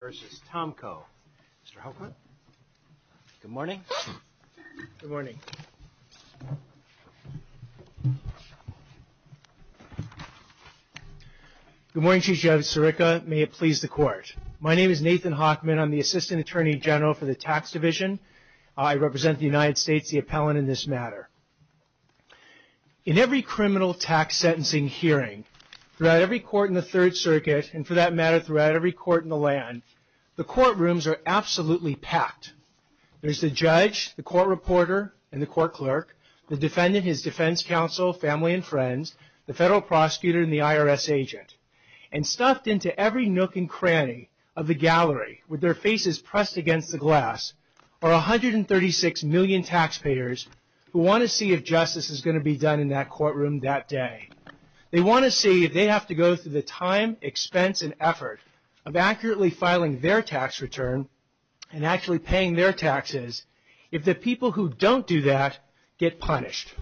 versus Tomko. Mr. Hockman. Good morning. Good morning. Good morning, Chief Justice Sirica. May it please the court. My name is Nathan Hockman. I'm the Assistant Attorney General for the Tax Division. I represent the United States, the appellant in this matter. In every criminal tax sentencing hearing, throughout every court in the Third Amendment plan, the courtrooms are absolutely packed. There's the judge, the court reporter, and the court clerk, the defendant, his defense counsel, family, and friends, the federal prosecutor, and the IRS agent. And stuffed into every nook and cranny of the gallery, with their faces pressed against the glass, are 136 million taxpayers who want to see if justice is going to be done in that courtroom that day. They want to see if they have to go through the time, expense, and effort of accurately filing their tax return, and actually paying their taxes, if the people who don't do that get punished.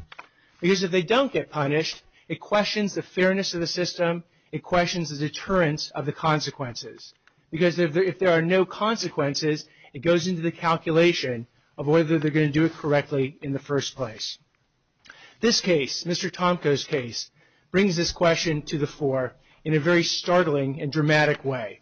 Because if they don't get punished, it questions the fairness of the system. It questions the deterrence of the consequences. Because if there are no consequences, it goes into the calculation of whether they're going to do it correctly in the first place. This case, Mr. Tomko's case, brings this question to the fore in a very startling and dramatic way.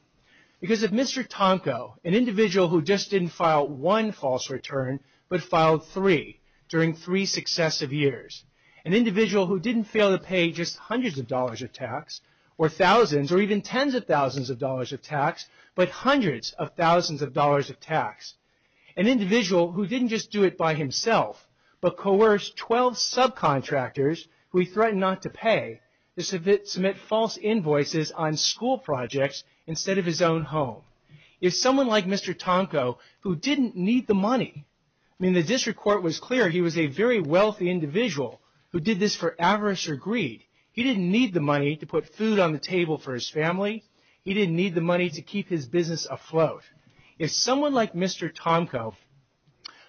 Because if Mr. Tomko, an individual who just didn't file one false return, but filed three, during three successive years, an individual who didn't fail to pay just hundreds of dollars of tax, or thousands, or even tens of thousands of dollars of tax, but hundreds of but coerced 12 subcontractors, who he threatened not to pay, to submit false invoices on school projects instead of his own home. If someone like Mr. Tomko, who didn't need the money, I mean the district court was clear he was a very wealthy individual who did this for avarice or greed. He didn't need the money to put food on the table for his family. He didn't need the money to keep his business afloat. If someone like Mr. Tomko,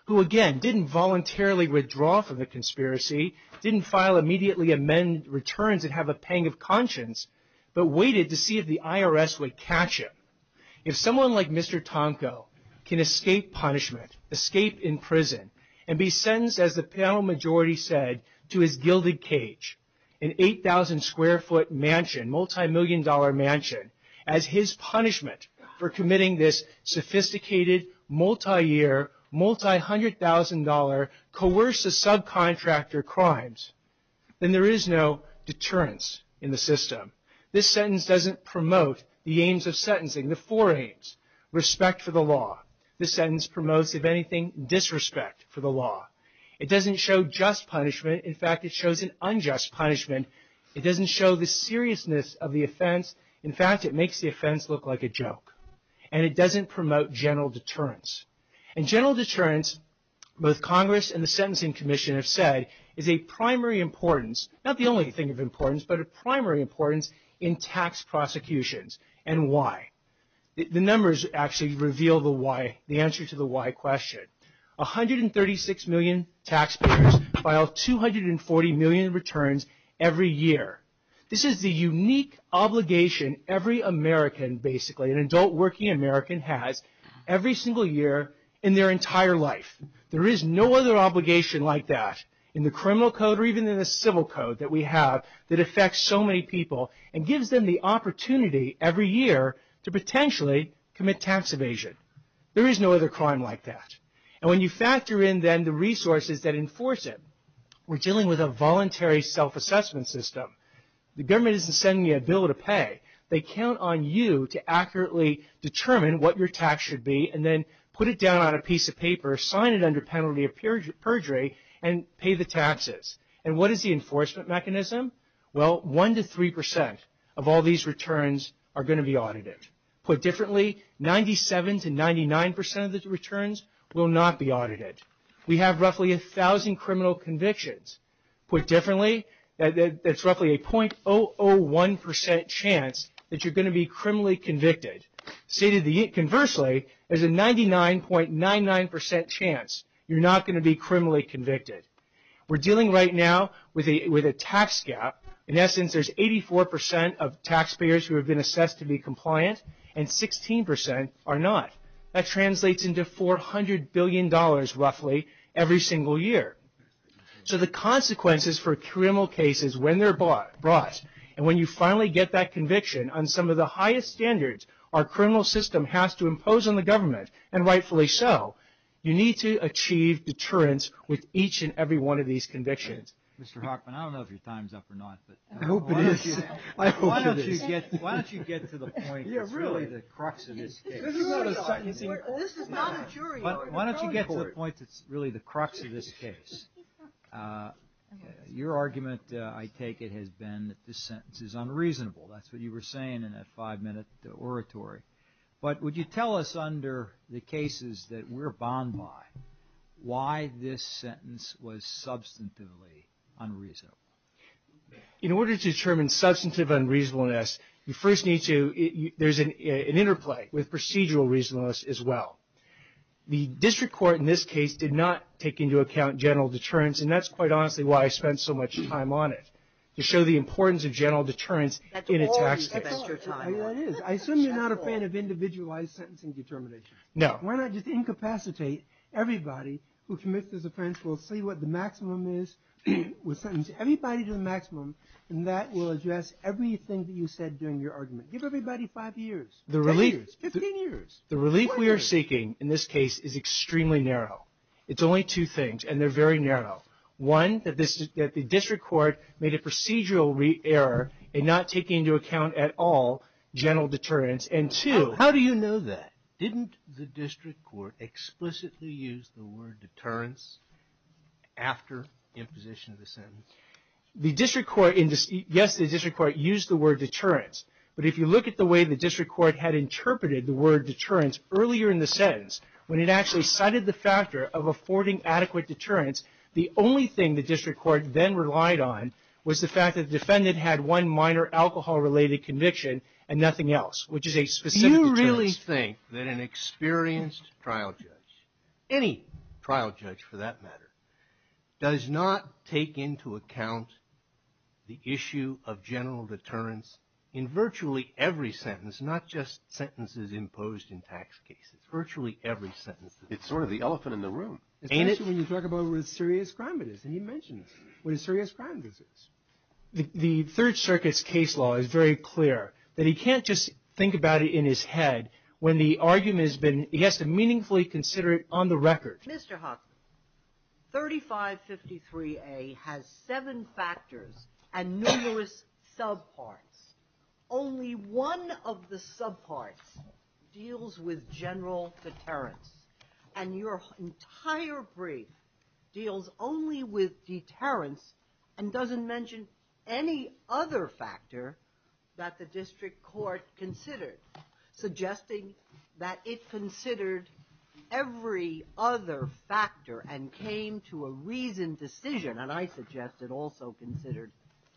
who again didn't voluntarily withdraw from the conspiracy, didn't file immediately amend returns and have a pang of conscience, but waited to see if the IRS would catch him. If someone like Mr. Tomko can escape punishment, escape in prison, and be sentenced, as the panel majority said, to his gilded cage, an 8,000 square foot mansion, multi-million dollar mansion, as his punishment for committing this sophisticated, multi-year, multi-hundred thousand dollar, coercive subcontractor crimes, then there is no deterrence in the system. This sentence doesn't promote the aims of sentencing, the four aims. Respect for the law. This sentence promotes, if anything, disrespect for the law. It doesn't show just punishment. In fact, it shows an unjust punishment. It doesn't show the seriousness of the offense. In fact, it makes the offense look like a joke. And it doesn't promote general deterrence. And general deterrence, both Congress and the Sentencing Commission have said, is a primary importance, not the only thing of importance, but a primary importance in tax prosecutions. And why? The numbers actually reveal the answer to the why question. 136 million taxpayers file 240 million returns every year. This is the unique obligation every American, basically, an adult working American, has every single year in their entire life. There is no other obligation like that in the criminal code, or even in the civil code that we have, that affects so many people and gives them the opportunity every year to potentially commit tax evasion. There is no other crime like that. And when you factor in then the resources that enforce it, we're dealing with a voluntary self-assessment system. The government isn't sending you a bill to pay. They count on you to accurately determine what your tax should be and then put it down on a piece of paper, sign it under penalty of perjury, and pay the taxes. And what is the enforcement mechanism? Well, one to three percent of all returns are going to be audited. Put differently, 97 to 99 percent of the returns will not be audited. We have roughly a thousand criminal convictions. Put differently, that's roughly a 0.001 percent chance that you're going to be criminally convicted. Conversely, there's a 99.99 percent chance you're not going to be criminally convicted. We're dealing right now with a tax gap. In essence, there's 84 percent of taxpayers who have been assessed to be compliant and 16 percent are not. That translates into $400 billion roughly every single year. So the consequences for criminal cases when they're brought, and when you finally get that conviction on some of the highest standards our criminal system has to impose on the government, and rightfully so, you need to achieve deterrence with each and every one of these convictions. Mr. Hochman, I don't know if your time's up or not, but why don't you get to the point that's really the crux of this case. Your argument, I take it, has been that this sentence is unreasonable. That's what you were saying in that five-minute oratory. But would you tell us under the cases that we're bound by, why this sentence was substantively unreasonable? In order to determine substantive unreasonableness, you first need to, there's an interplay with procedural reasonableness as well. The district court in this case did not take into account general deterrence, and that's quite honestly why I spent so much time on it, to show the importance of general deterrence in a tax case. That's all you spent your time on. I assume you're not a fan of individualized sentencing determinations. No. Why not just incapacitate everybody who commits this offense? We'll see what the maximum is. We'll sentence everybody to the maximum, and that will address everything that you said during your argument. Give everybody five years, 10 years, 15 years. The relief we are seeking in this case is extremely narrow. It's only two things, and they're very narrow. One, that the district court made a procedural error in not taking into account at all general deterrence. And two- How do you know that? Didn't the district court explicitly use the word deterrence after imposition of the sentence? Yes, the district court used the word deterrence, but if you look at the way the district court had interpreted the word deterrence earlier in the sentence, when it actually cited the factor of affording adequate deterrence, the only thing the district court then relied on was the fact that the defendant had one minor alcohol-related conviction and nothing else, which is a specific deterrence. Do you really think that an experienced trial judge, any trial judge for that matter, does not take into account the issue of general deterrence in virtually every sentence, not just sentences imposed in tax cases, virtually every sentence? It's sort of the elephant in the room. Especially when you talk about what a serious crime it is, and you mentioned what a serious crime it is. The Third Circuit's case law is very clear that he can't just think about it in his head when the argument has been, he has to meaningfully consider it on the record. Mr. Huffman, 3553A has seven factors and numerous subparts. Only one of the subparts deals with general deterrence, and your entire brief deals only with deterrence and doesn't mention any other factor that the district court considered, suggesting that it considered every other factor and came to a reasoned decision, and I suggest it also considered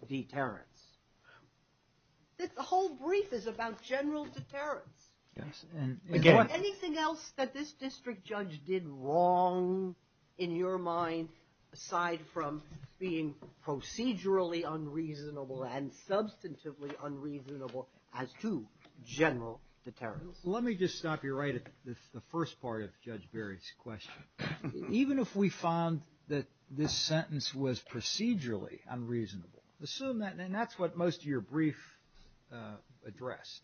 deterrence. The whole brief is about general deterrence. Yes, and again- This district judge did wrong in your mind aside from being procedurally unreasonable and substantively unreasonable as to general deterrence. Let me just stop you right at the first part of Judge Berry's question. Even if we found that this sentence was procedurally unreasonable, assume that, and that's what most of your brief addressed,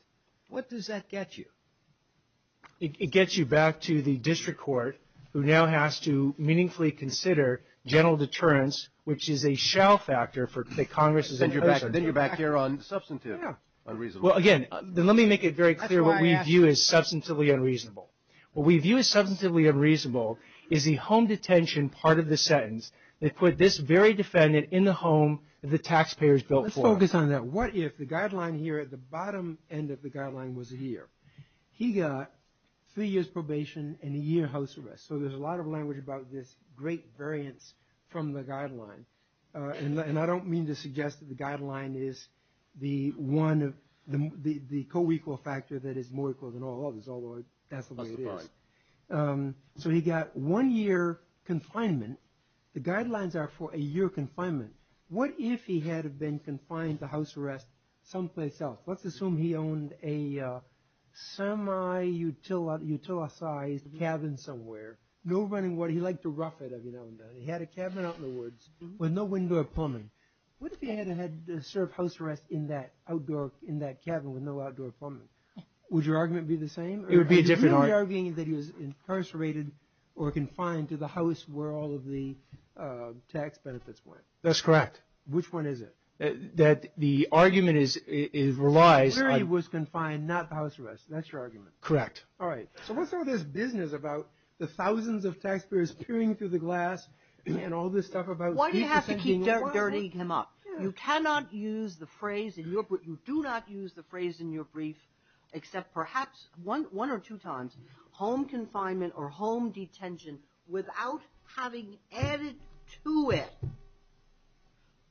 what does that get you? It gets you back to the district court who now has to meaningfully consider general deterrence, which is a shall factor for the Congress's- Then you're back here on substantive unreasonable. Well, again, let me make it very clear what we view as substantively unreasonable. What we view as substantively unreasonable is the home detention part of the sentence that put this very defendant in the home that the taxpayers built for them. Let's focus on that. What if the guideline here at the bottom end of the guideline was here? He got three years probation and a year house arrest. So there's a lot of language about this great variance from the guideline. And I don't mean to suggest that the guideline is the co-equal factor that is more equal than all others, although that's the way it is. So he got one year confinement. The guidelines are for a year confinement. What if he had been confined to house arrest someplace else? Let's assume he owned a semi-utilized cabin somewhere. No running water. He liked to rough it, if you know what I mean. He had a cabin out in the woods with no window or plumbing. What if he had served house arrest in that cabin with no outdoor plumbing? Would your argument be the same? It would be a different argument. Are you arguing that he was incarcerated or confined to the house where all of the tax benefits went? That's correct. Which one is it? That the argument relies on... He clearly was confined, not house arrest. That's your argument. Correct. All right. So what's all this business about the thousands of taxpayers peering through the glass and all this stuff about... Why do you have to keep dirtying him up? You cannot use the phrase in your... You do not use the phrase in your brief, except perhaps one or two times, home confinement or home detention without having added to it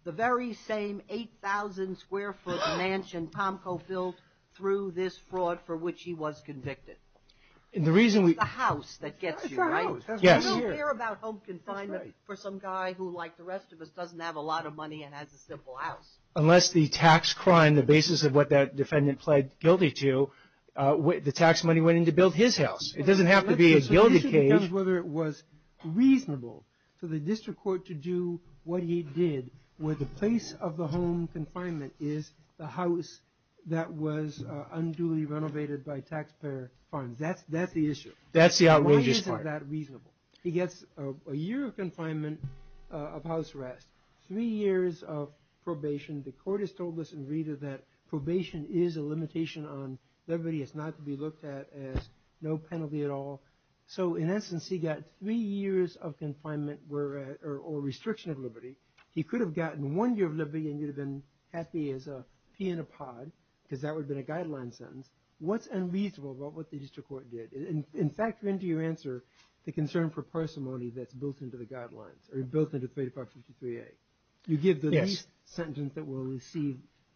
the very same 8,000 square foot mansion Tom co-filled through this fraud for which he was convicted. And the reason we... It's the house that gets you, right? It's the house. Yes. You don't care about home confinement for some guy who, like the rest of us, doesn't have a lot of money and has a simple house. Unless the tax crime, the basis of what that defendant pled guilty to, the tax money went in to build his house. It doesn't have to be a gilded cage. It comes whether it was reasonable for the district court to do what he did, where the place of the home confinement is the house that was unduly renovated by taxpayer funds. That's the issue. That's the outrageous part. Why isn't that reasonable? He gets a year of confinement of house arrest, three years of probation. The court has told us in Rita that probation is a limitation on liberty. It's not to be looked at as no penalty at all. So in essence, he got three years of confinement or restriction of liberty. He could have gotten one year of liberty and he'd have been happy as a pea in a pod because that would have been a guideline sentence. What's unreasonable about what the district court did? In fact, when do you answer the concern for parsimony that's built into the guidelines or built into 3553A? You give the least sentence that will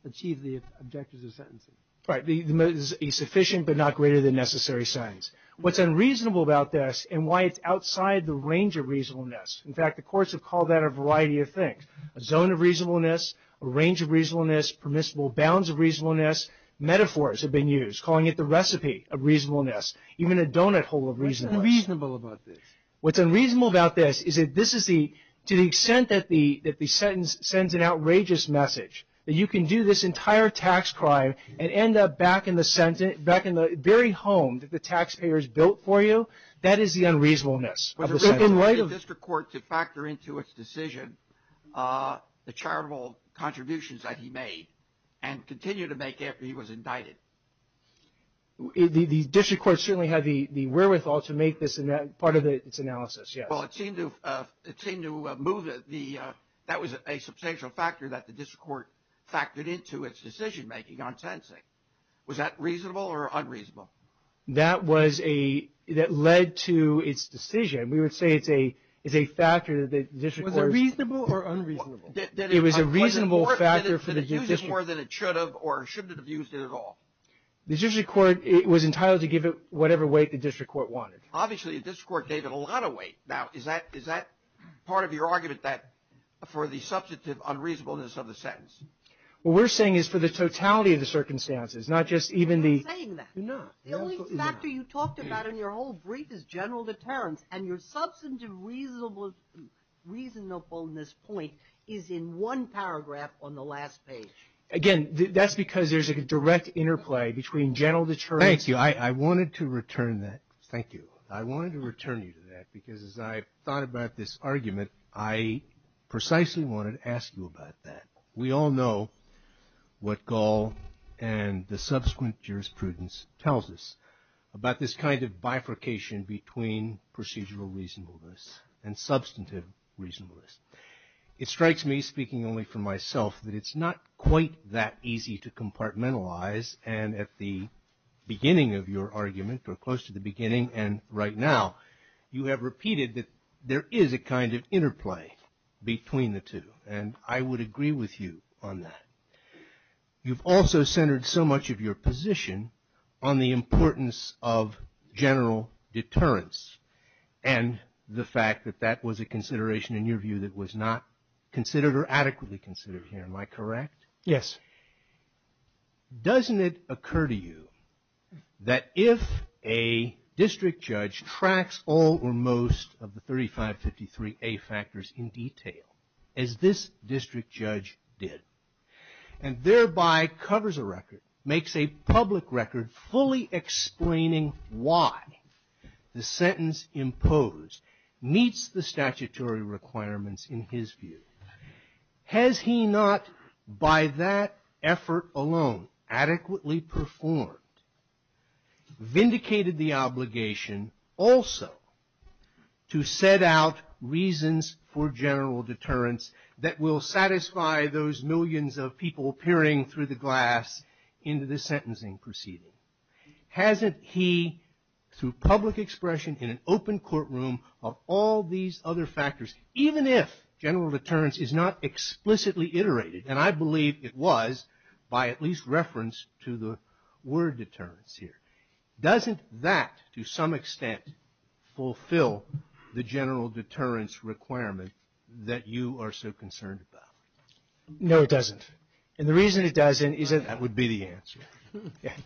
achieve the objectives of sentencing. Right. The most sufficient but not greater than necessary signs. What's unreasonable about this and why it's outside the range of reasonableness. In fact, the courts have called that a variety of things, a zone of reasonableness, a range of reasonableness, permissible bounds of reasonableness. Metaphors have been used, calling it the recipe of reasonableness, even a donut hole of reasonableness. What's unreasonable about this? What's unreasonable about this is that this is the, to the extent that the sentence sends an outrageous message, that you can do this entire tax crime and end up back in the sentence, back in the very home that the taxpayers built for you, that is the unreasonableness of the sentence. Was it reasonable for the district court to factor into its decision the charitable contributions that he made and continue to make after he was indicted? The district court certainly had the wherewithal to make this part of its analysis, yes. Well, it seemed to move the, that was a substantial factor that the district court factored into its decision making on sentencing. Was that reasonable or unreasonable? That was a, that led to its decision. We would say it's a, it's a factor that the district court. Was it reasonable or unreasonable? It was a reasonable factor for the district court. Did it use it more than it should have, or shouldn't it have used it at all? The district court, it was entitled to give it whatever weight the district court wanted. Obviously, the district court gave it a lot of weight. Now, is that, is that part of your argument that, for the substantive unreasonableness of the sentence? What we're saying is for the totality of the circumstances, not just even the. You're not saying that. You're not. The only factor you talked about in your whole brief is general deterrence, and your substantive reasonable, reasonableness point is in one paragraph on the last page. Again, that's because there's a direct interplay between general deterrence. Thank you. I wanted to return that. Thank you. I wanted to return you to that because as I thought about this argument, I precisely wanted to ask you about that. We all know what Gall and the subsequent jurisprudence tells us about this kind of bifurcation between procedural reasonableness and substantive reasonableness. It strikes me, speaking only for myself, that it's not quite that easy to compartmentalize, and at the beginning of your argument, or close to the beginning and right now, you have repeated that there is a kind of interplay between the two. I would agree with you on that. You've also centered so much of your position on the importance of general deterrence, and the fact that that was a consideration, in your view, that was not considered or adequately considered here. Am I correct? Yes. Doesn't it occur to you that if a district judge tracks all or most of the 3553A factors in detail, as this district judge did, and thereby covers a record, makes a public record fully explaining why the sentence imposed meets the statutory requirements in his view, has he not, by that effort alone, adequately performed, vindicated the obligation also to set out reasons for general deterrence that will satisfy those millions of people peering through the glass into the sentencing proceeding? Hasn't he, through public expression in an open courtroom of all these other factors, even if general deterrence is not explicitly iterated, and I believe it was by at least reference to the word deterrence here, doesn't that, to some extent, fulfill the general deterrence requirement that you are so concerned about? No, it doesn't. And the reason it doesn't is that... That would be the answer.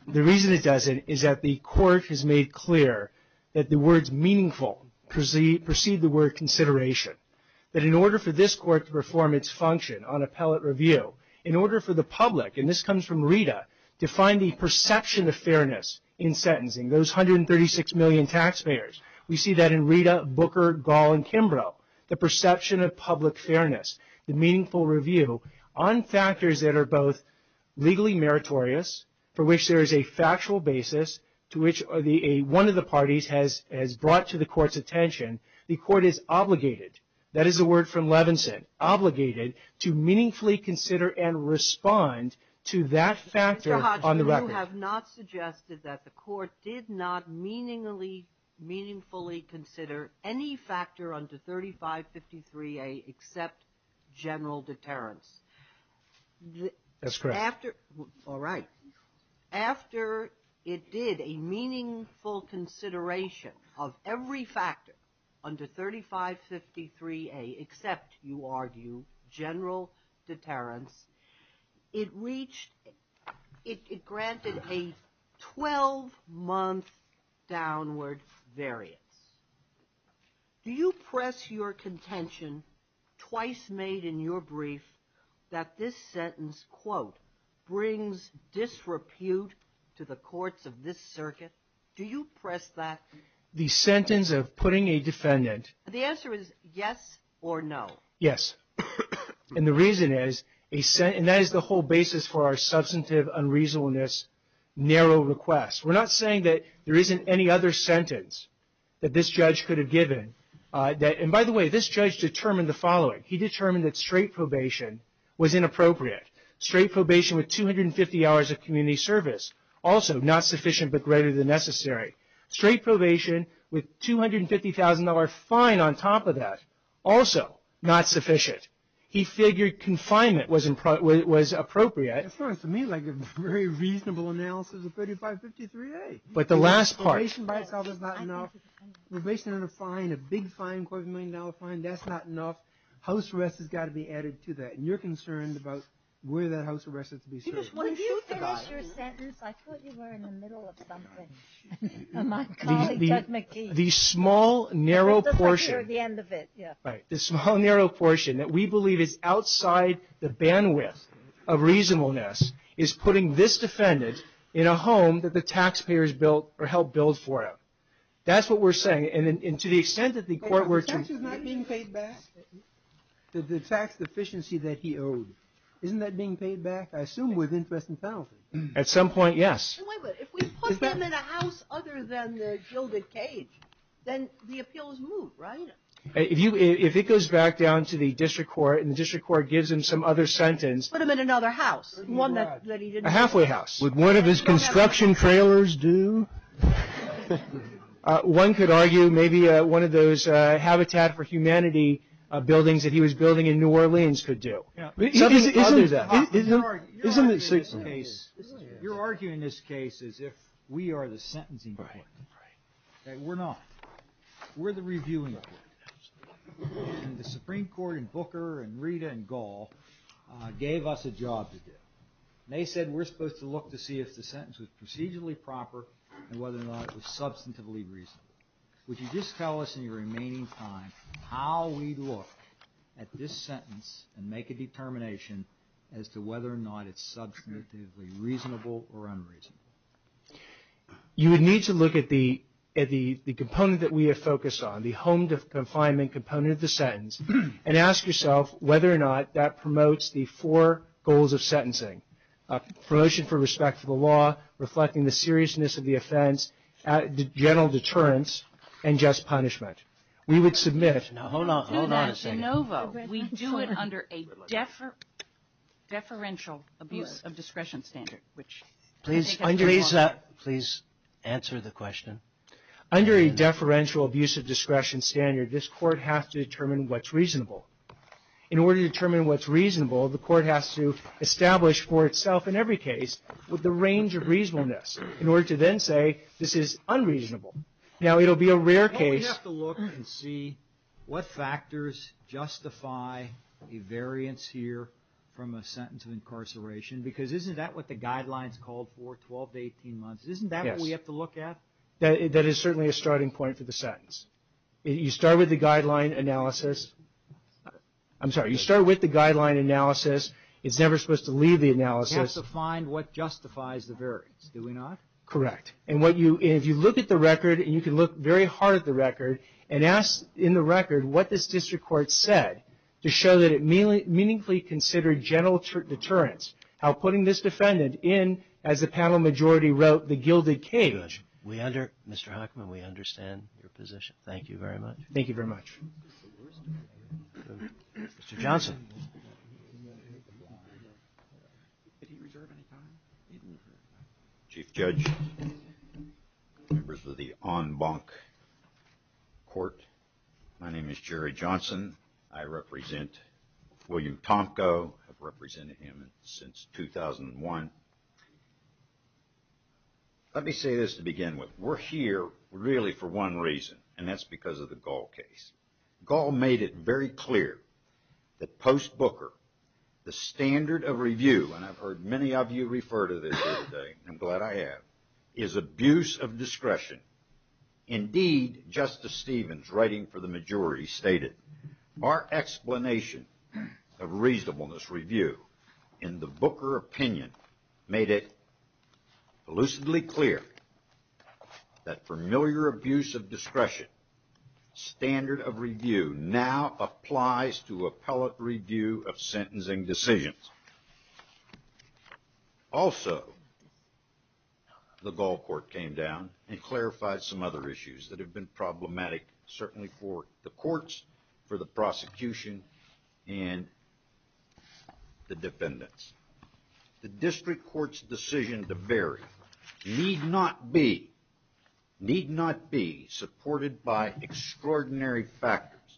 The reason it doesn't is that the court has made clear that the words meaningful precede the word consideration, that in order for this court to perform its function on appellate review, in order for the public, and this comes from Rita, to find the perception of fairness in sentencing, those 136 million taxpayers, we see that in Rita, Booker, Gall, and Kimbrough, the perception of public fairness, the meaningful review on factors that are both legally meritorious, for which there is a factual basis, to which one of the parties has brought to the court's attention, the court is obligated, that is the word from Levinson, obligated to meaningfully consider and respond to that factor on the record. Mr. Hodgkin, you have not suggested that the court did not meaningfully consider any factor under 3553A except general deterrence. That's correct. All right. After it did a meaningful consideration of every factor, under 3553A, except, you argue, general deterrence, it reached, it granted a 12-month downward variance. Do you press your contention, twice made in your brief, that this sentence, quote, brings disrepute to the courts of this circuit? Do you press that? The sentence of putting a defendant... The answer is yes or no. Yes. And the reason is, and that is the whole basis for our substantive unreasonableness narrow request. We're not saying that there isn't any other sentence that this judge could have given. And by the way, this judge determined the following. He determined that straight probation was inappropriate. Straight probation with 250 hours of community service, also not sufficient but greater than necessary. Straight probation with $250,000 fine on top of that, also not sufficient. He figured confinement was appropriate. As far as to me, like a very reasonable analysis of 3553A. But the last part... Probation by itself is not enough. Probation and a fine, a big fine, quarter of a million dollar fine, that's not enough. House arrest has got to be added to that. And you're concerned about where that house arrest is to be served. When you finished your sentence, I thought you were in the middle of something. My colleague, Doug McKee. The small, narrow portion... We're at the end of it, yeah. Right. The small, narrow portion that we believe is outside the bandwidth of reasonableness is putting this defendant in a home that the taxpayers built or helped build for him. That's what we're saying. And to the extent that the court were to... The tax is not being paid back? The tax deficiency that he owed, isn't that being paid back? I assume with interest and penalty. At some point, yes. If we put him in a house other than the gilded cage, then the appeals move, right? If it goes back down to the district court, and the district court gives him some other sentence... Put him in another house. A halfway house. Would one of his construction trailers do? One could argue maybe one of those Habitat for Humanity buildings that he was building in New Orleans could do. Yeah, I'll do that. You're arguing this case as if we are the sentencing department. Right, right. Okay, we're not. We're the reviewing department. And the Supreme Court and Booker and Rita and Gall gave us a job to do. They said we're supposed to look to see if the sentence was procedurally proper and whether or not it was substantively reasonable. Would you just tell us in your remaining time how we'd look at this sentence and make a determination as to whether or not it's substantively reasonable or unreasonable? You would need to look at the component that we have focused on, the home confinement component of the sentence, and ask yourself whether or not that promotes the four goals of sentencing. Promotion for respect for the law, reflecting the seriousness of the offense, general deterrence, and just punishment. We would submit... Now hold on, hold on a second. We do it under a deferential abuse of discretion standard. Please answer the question. Under a deferential abuse of discretion standard, this court has to determine what's reasonable. In order to determine what's reasonable, the court has to establish for itself in every case the range of reasonableness in order to then say this is unreasonable. Now it'll be a rare case... Don't we have to look and see what factors justify a variance here from a sentence of incarceration? Because isn't that what the guidelines called for 12 to 18 months? Isn't that what we have to look at? That is certainly a starting point for the sentence. You start with the guideline analysis. I'm sorry. You start with the guideline analysis. It's never supposed to leave the analysis. We have to find what justifies the variance, do we not? Correct. And if you look at the record, and you can look very hard at the record, and ask in the record what this district court said to show that it meaningfully considered general deterrence, how putting this defendant in, as the panel majority wrote, the gilded cage... Judge, Mr. Hochman, we understand your position. Thank you very much. Thank you very much. Mr. Johnson. Chief Judge. Members of the en banc court. My name is Jerry Johnson. I represent Fuyu Tomko. I've represented him since 2001. Let me say this to begin with. We're here really for one reason, and that's because of the Gall case. Gall made it very clear that post-Booker, the standard of review, and I've heard many of you refer to this today, I'm glad I have, is abuse of discretion. Indeed, Justice Stevens, writing for the majority, stated, our explanation of reasonableness review in the Booker opinion made it elucidly clear that familiar abuse of discretion, standard of review now applies to appellate review of sentencing decisions. Also, the Gall court came down and clarified some other issues that have been problematic, certainly for the courts, for the prosecution, and the defendants. The district court's decision to bury need not be supported by extraordinary factors,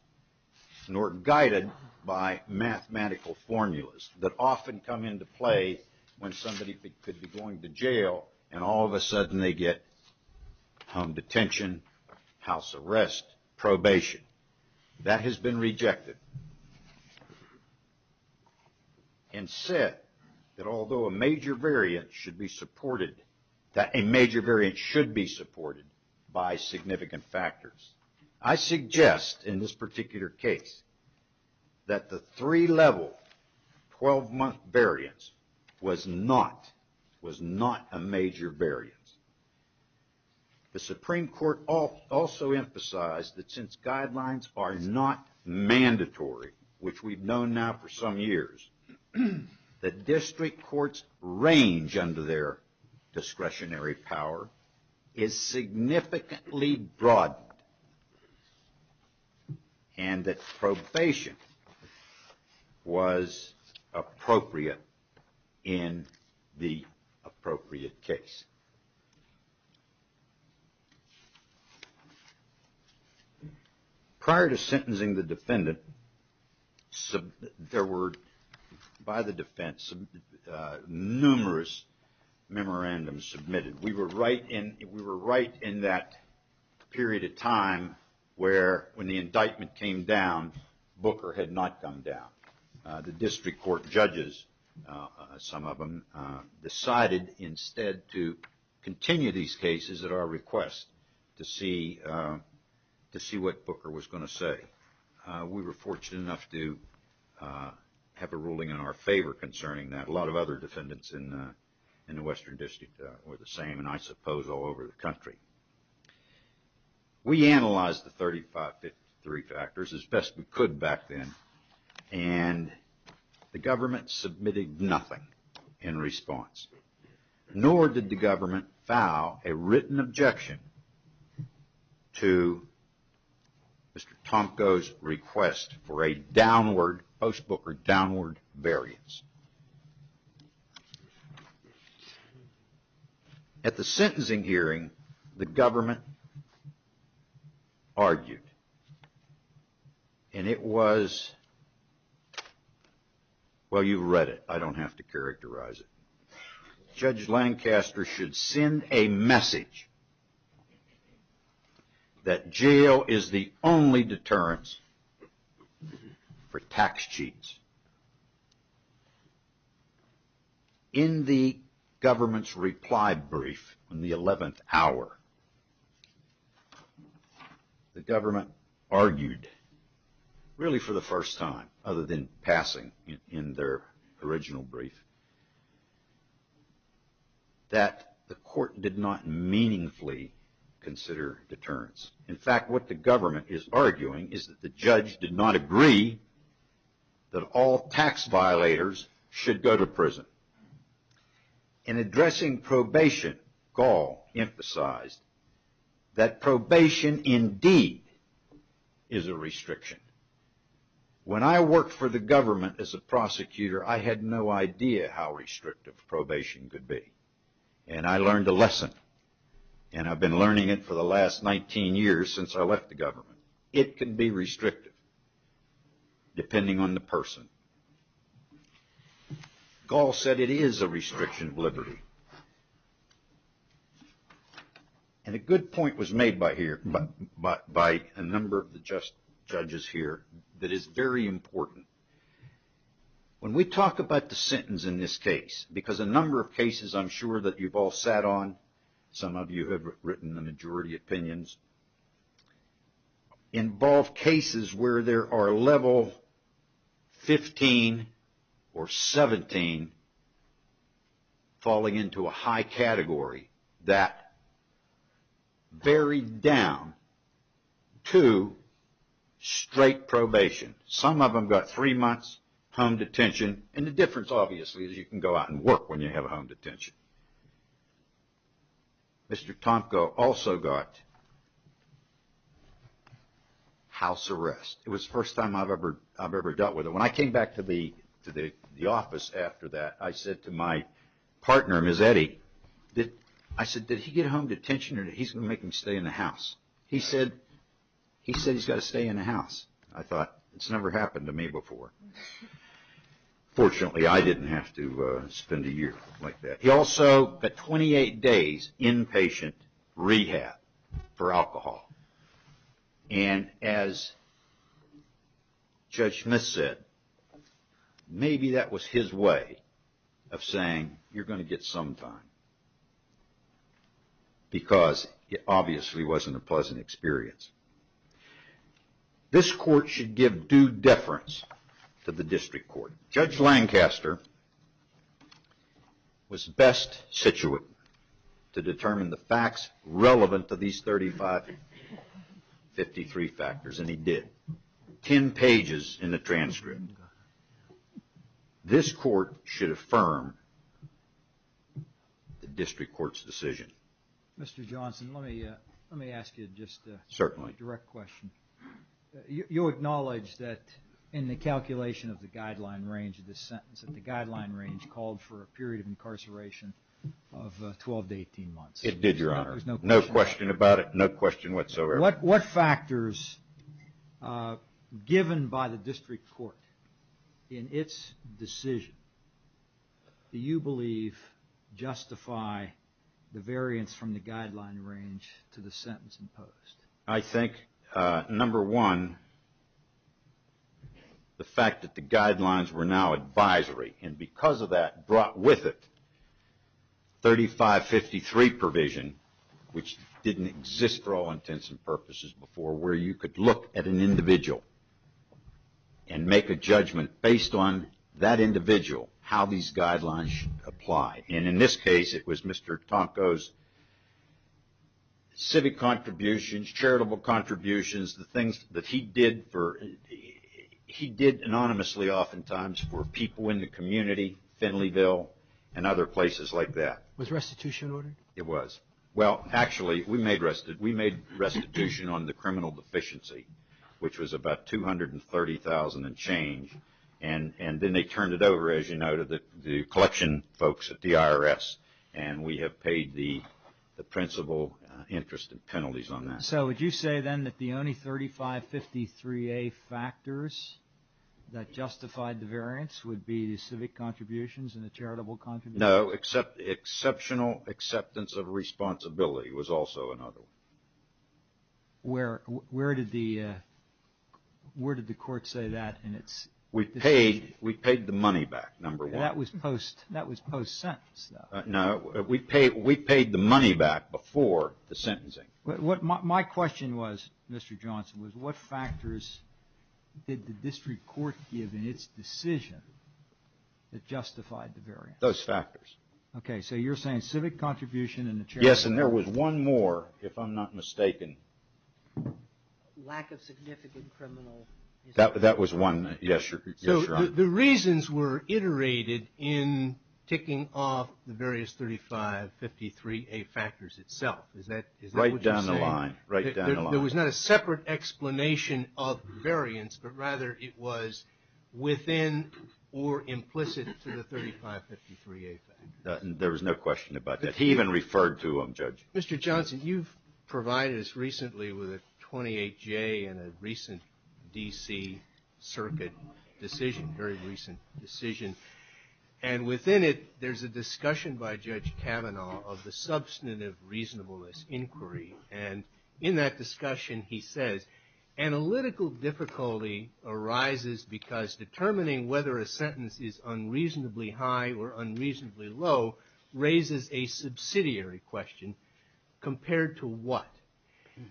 nor guided by mathematical formulas that often come into play when somebody could be going to jail and all of a sudden they get home detention, house arrest, probation. That has been rejected. And said that although a major variant should be supported, that a major variant should be supported by significant factors. I suggest in this particular case that the three-level 12-month variance was not a major variance. The Supreme Court also emphasized that since guidelines are not mandatory, which we've known now for some years, that district courts range under their discretionary power is significantly broadened. And that probation was appropriate in the appropriate case. Prior to sentencing the defendant, there were, by the defense, numerous memorandums submitted. We were right in that period of time where when the indictment came down, Booker had not gone down. The district court judges, some of them, decided instead to continue these cases at our request to see what Booker was going to say. We were fortunate enough to have a ruling in our favor concerning that. A lot of other defendants in the Western District were the same, and I suppose all over the country. We analyzed the 3553 factors as best we could back then, and the government submitted nothing in response. Nor did the government file a written objection to Mr. Tomko's request for a downward, post-Booker, downward variance. At the sentencing hearing, the government argued, and it was... Well, you've read it. I don't have to characterize it. Judge Lancaster should send a message that jail is the only deterrence for tax cheats. In the government's reply brief on the 11th hour, the government argued, really for the first time other than passing in their original brief, that the court did not meaningfully consider deterrence. In fact, what the government is arguing is that the judge did not agree that all tax violators should go to prison. In addressing probation, Gall emphasized that probation indeed is a restriction. When I worked for the government as a prosecutor, I had no idea how restrictive probation could be, and I learned a lesson, and I've been learning it for the last 19 years since I left the government. It can be restrictive depending on the person. Gall said it is a restriction of liberty. And a good point was made by here, by a number of the judges here that is very important. When we talk about the sentence in this case, because a number of cases I'm sure that you've all sat on, some of you have written the majority opinions, involve cases where there are level 15 or 17 falling into a high category that very down to straight probation. Some of them got three months home detention, and the difference obviously is you can go out and work when you have a home detention. Mr. Tomko also got house arrest. It was the first time I've ever dealt with it. When I came back to the office after that, I said to my partner, Ms. Eddie, I said, did he get home detention or he's going to make him stay in the house? He said he's got to stay in the house. I thought it's never happened to me before. Fortunately, I didn't have to spend a year like that. He also got 28 days inpatient rehab for alcohol. As Judge Smith said, maybe that was his way of saying you're going to get some time because it obviously wasn't a pleasant experience. This court should give due deference to the district court. Judge Lancaster was best situated to determine the facts relevant to these 35, 53 factors, and he did. 10 pages in the transcript. This court should affirm the district court's decision. Mr. Johnson, let me ask you just a direct question. You acknowledged that in the calculation of the guideline range of this sentence, the guideline range called for a period of incarceration of 12 to 18 months. It did, Your Honor. No question about it. No question whatsoever. What factors given by the district court in its decision do you believe justify the variance from the guideline range to the sentence imposed? I think, number one, the fact that the guidelines were now advisory, and because of that, brought with it 35, 53 provision, which didn't exist for all intents and purposes before, where you could look at an individual and make a judgment based on that individual how these guidelines should apply. And in this case, it was Mr. Tonko's civic contributions, charitable contributions, the things that he did for... he did anonymously oftentimes for people in the community, Finleyville, and other places like that. Was restitution ordered? It was. Well, actually, we made restitution on the criminal deficiency, which was about $230,000 and change, and then they turned it over, as you noted, to the collection folks at the IRS, and we have paid the principal interest and penalties on that. So would you say, then, that the only 35, 53a factors that justified the variance would be the civic contributions and the charitable contributions? No, exceptional acceptance of responsibility was also another one. Where did the court say that in its... We paid the money back, number one. That was post-sentence, though. No, we paid the money back before the sentencing. My question was, Mr. Johnson, was what factors did the district court give in its decision that justified the variance? Those factors. Okay, so you're saying civic contribution and the charitable... Yes, and there was one more, if I'm not mistaken. Lack of significant criminal... That was one, yes, Your Honor. So the reasons were iterated in ticking off the various 35, 53a factors itself. Is that what you're saying? Right down the line. Right down the line. There was not a separate explanation of the variance, but rather it was within or implicit to the 35, 53a factors. There was no question about that. He even referred to them, Judge. Mr. Johnson, you've provided us recently with a 28j and a recent D.C. circuit decision, very recent decision. And within it, there's a discussion by Judge Kavanaugh of the substantive reasonableness inquiry. And in that discussion, he says, analytical difficulty arises because determining whether a sentence is unreasonably high or unreasonably low raises a subsidiary question. Compared to what?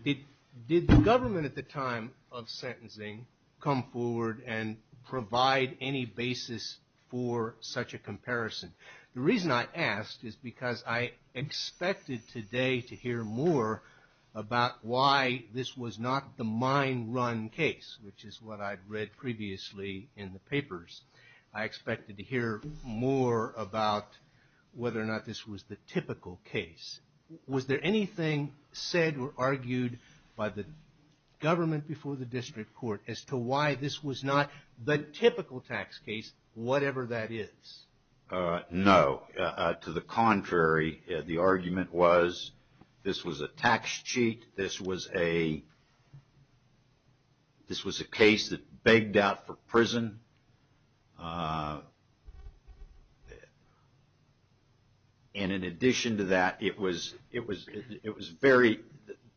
Did the government at the time of sentencing come forward and provide any basis for such a comparison? The reason I asked is because I expected today to hear more about why this was not the mine run case, which is what I'd read previously in the papers. I expected to hear more about whether or not this was the typical case. Was there anything said or argued by the government before the district court as to why this was not the typical tax case, whatever that is? No. To the contrary, the argument was this was a tax cheat. This was a case that begged out for prison. And in addition to that, it was very,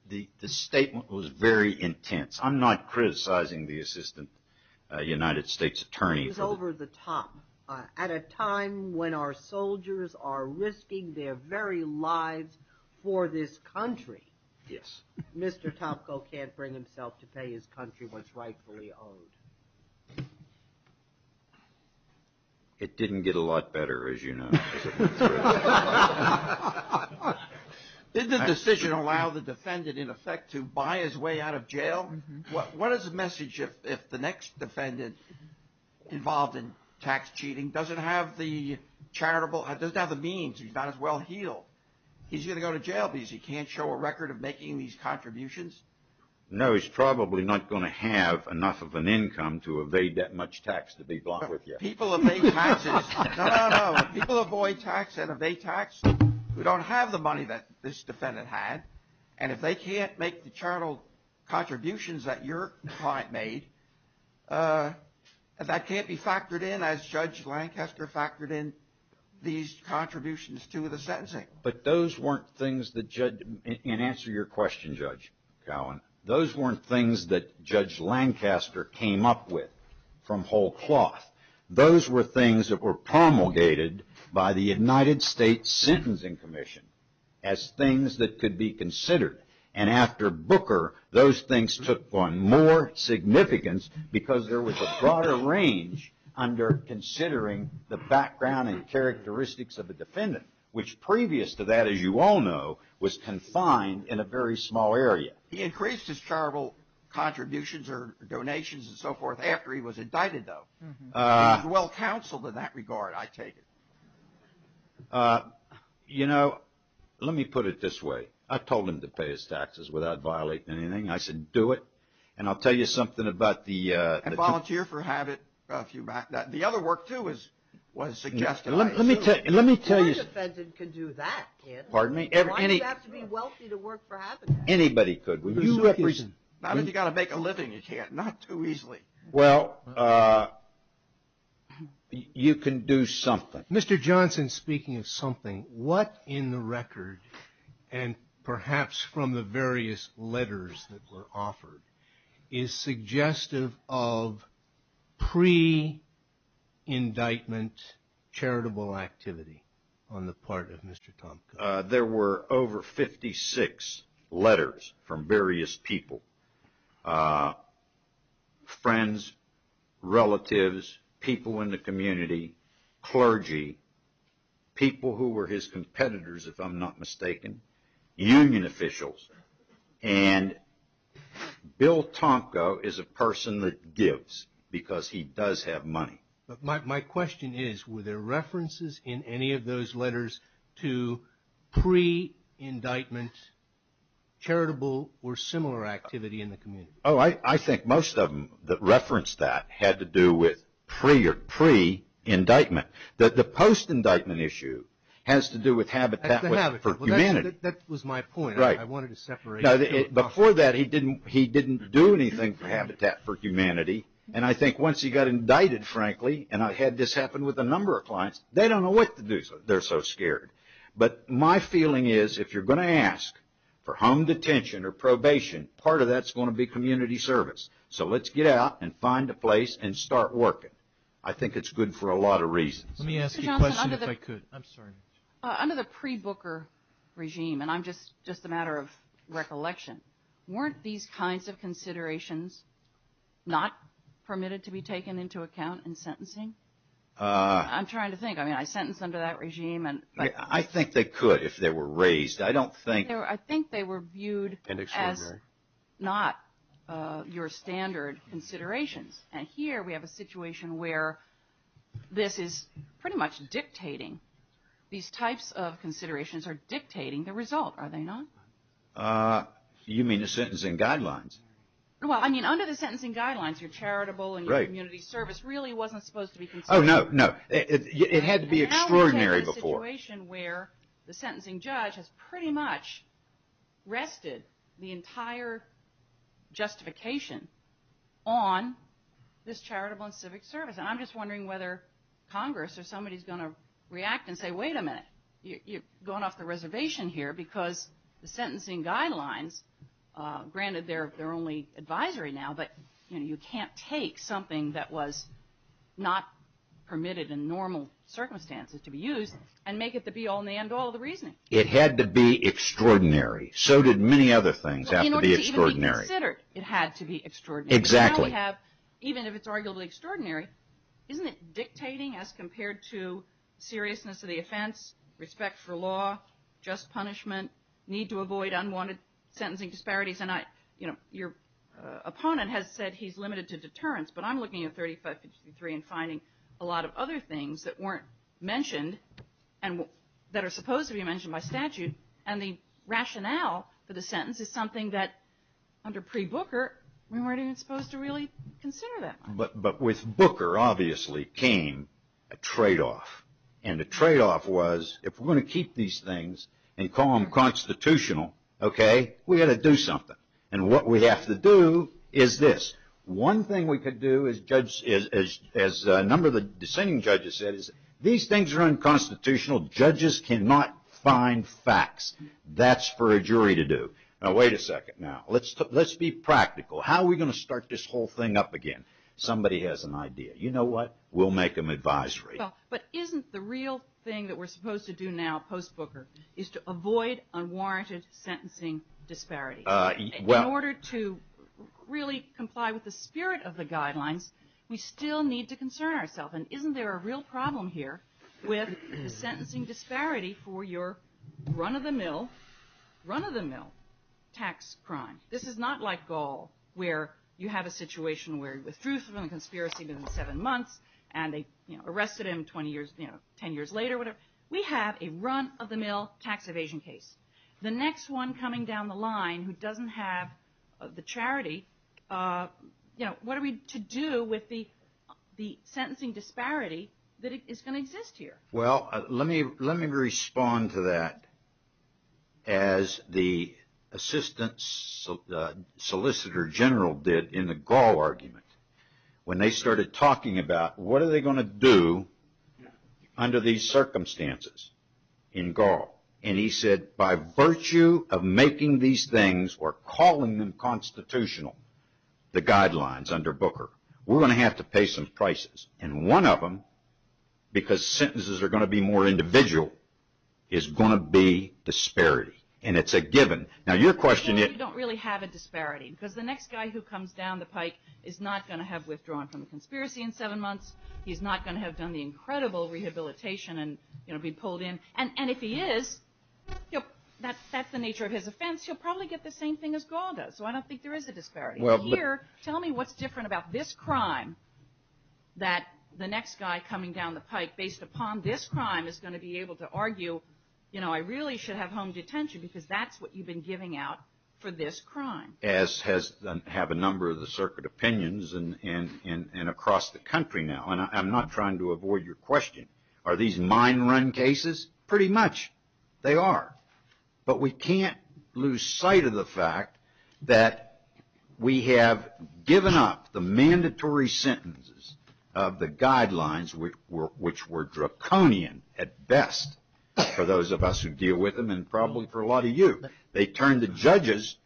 the statement was very intense. I'm not criticizing the assistant United States attorney. It was over the top. At a time when our soldiers are risking their very lives for this country, Mr. Topko can't bring himself to pay his country what's rightfully owed. It didn't get a lot better, as you know. Did the decision allow the defendant, in effect, to buy his way out of jail? What is the message if the next defendant involved in tax cheating doesn't have the charitable, doesn't have the means, he's not as well healed, he's going to go to jail because he can't show a record of making these contributions? No, he's probably not going to have enough of an income to evade that much tax to be blunt with you. People evade taxes. No, no, no. People avoid tax and evade tax who don't have the money that this defendant had. And if they can't make the charitable contributions that your client made, that can't be factored in as Judge Lancaster factored in these contributions to the sentencing. But those weren't things that, in answer to your question, Judge Cowan, those weren't things that Judge Lancaster came up with from whole cloth. Those were things that were promulgated by the United States Sentencing Commission as things that could be considered. And after Booker, those things took on more significance because there was a broader range under considering the background and characteristics of the defendant, which previous to that, as you all know, was confined in a very small area. He increased his charitable contributions or donations and so forth after he was indicted, though. He was well counseled in that regard, I take it. Uh, you know, let me put it this way. I told him to pay his taxes without violating anything. I said, do it. And I'll tell you something about the, uh... And volunteer for habit. The other work, too, is what is suggested. Let me tell you. Let me tell you. No defendant can do that, kid. Pardon me? Why do you have to be wealthy to work for habit? Anybody could. Not if you got to make a living, you can't. Not too easily. Well, uh... You can do something. Mr. Johnson, speaking of something, what in the record and perhaps from the various letters that were offered is suggestive of pre-indictment charitable activity on the part of Mr. Tompkins? There were over 56 letters from various people. Friends, relatives, people in the community, clergy, people who were his competitors, if I'm not mistaken, union officials. And Bill Tomko is a person that gives because he does have money. But my question is, were there references in any of those letters to pre-indictment charitable or similar activity in the community? Oh, I think most of them that referenced that had to do with pre-indictment. The post-indictment issue has to do with habitat for humanity. That was my point. Right. I wanted to separate. Before that, he didn't do anything for habitat for humanity. And I think once he got indicted, frankly, and I had this happen with a number of clients, they don't know what to do. They're so scared. But my feeling is if you're going to ask for home detention or probation, part of that's going to be community service. So let's get out and find a place and start working. I think it's good for a lot of reasons. Let me ask you a question if I could. I'm sorry. Under the pre-Booker regime, and I'm just a matter of recollection, weren't these kinds of considerations not permitted to be taken into account in sentencing? I'm trying to think. I mean, I sentenced under that regime. I think they could if they were raised. I don't think. I think they were viewed as not your standard considerations. And here we have a situation where this is pretty much dictating. These types of considerations are dictating the result, are they not? You mean the sentencing guidelines? Well, I mean, under the sentencing guidelines, your charitable and community service really wasn't supposed to be considered. Oh, no, no. It had to be extraordinary before. Where the sentencing judge has pretty much rested the entire justification on this charitable and civic service. And I'm just wondering whether Congress or somebody is going to react and say, wait a minute, you're going off the reservation here because the sentencing guidelines, granted they're only advisory now, but you can't take something that was not permitted in normal circumstances to be used and make it the be-all and end-all of the reasoning. It had to be extraordinary. So did many other things have to be extraordinary. It had to be extraordinary. Exactly. Even if it's arguably extraordinary, isn't it dictating as compared to seriousness of the offense, respect for law, just punishment, need to avoid unwanted sentencing disparities? And I, you know, your opponent has said he's limited to deterrence, but I'm looking at 3553 and finding a lot of other things that weren't mentioned and that are supposed to be mentioned by statute. And the rationale for the sentence is something that under pre-Booker, we weren't even supposed to really consider that much. But with Booker, obviously came a trade-off. And the trade-off was if we're going to keep these things and call them constitutional, OK, we got to do something. And what we have to do is this. One thing we could do is judge, as a number of the dissenting judges said, is these things are unconstitutional. Judges cannot find facts. That's for a jury to do. Now, wait a second. Now, let's be practical. How are we going to start this whole thing up again? Somebody has an idea. You know what? We'll make them advisory. But isn't the real thing that we're supposed to do now, post-Booker, is to avoid unwarranted sentencing disparities? In order to really comply with the spirit of the guidelines, we still need to concern ourselves. And isn't there a real problem here with the sentencing disparity for your run-of-the-mill, run-of-the-mill tax crime? This is not like Gaul, where you have a situation where you withdrew from a conspiracy within seven months and they arrested him 20 years, 10 years later, whatever. We have a run-of-the-mill tax evasion case. The next one coming down the line who doesn't have the charity, what are we to do with the sentencing disparity that is going to exist here? Well, let me respond to that as the Assistant Solicitor General did in the Gaul argument. When they started talking about what are they going to do under these circumstances in Gaul? And he said, by virtue of making these things or calling them constitutional, the guidelines under Booker, we're going to have to pay some prices. And one of them, because sentences are going to be more individual, is going to be disparity. And it's a given. Now, your question is... You don't really have a disparity because the next guy who comes down the pike is not going to have withdrawn from a conspiracy in seven months. He's not going to have done the incredible rehabilitation and be pulled in. And if he is, that's the nature of his offense. He'll probably get the same thing as Gaul does. So I don't think there is a disparity. Here, tell me what's different about this crime that the next guy coming down the pike based upon this crime is going to be able to argue, you know, I really should have home detention because that's what you've been giving out for this crime. As have a number of the circuit opinions and across the country now. And I'm not trying to avoid your question. Are these mine run cases? Pretty much, they are. But we can't lose sight of the fact that we have given up the mandatory sentences of the guidelines which were draconian at best for those of us who deal with them and probably for a lot of you. They turned the judges,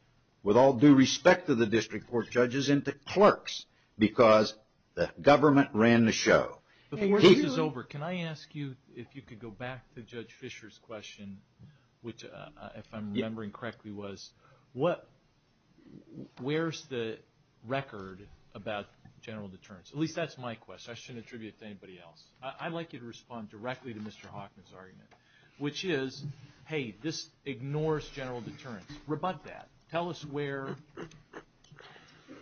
with all due respect to the district court judges, into clerks because the government ran the show. Before this is over, can I ask you if you could go back to Judge Fisher's question, which if I'm remembering correctly, was where's the record about general deterrence? At least that's my question. I shouldn't attribute it to anybody else. I'd like you to respond directly to Mr. Hockman's argument, which is, hey, this ignores general deterrence. Rebut that. Tell us where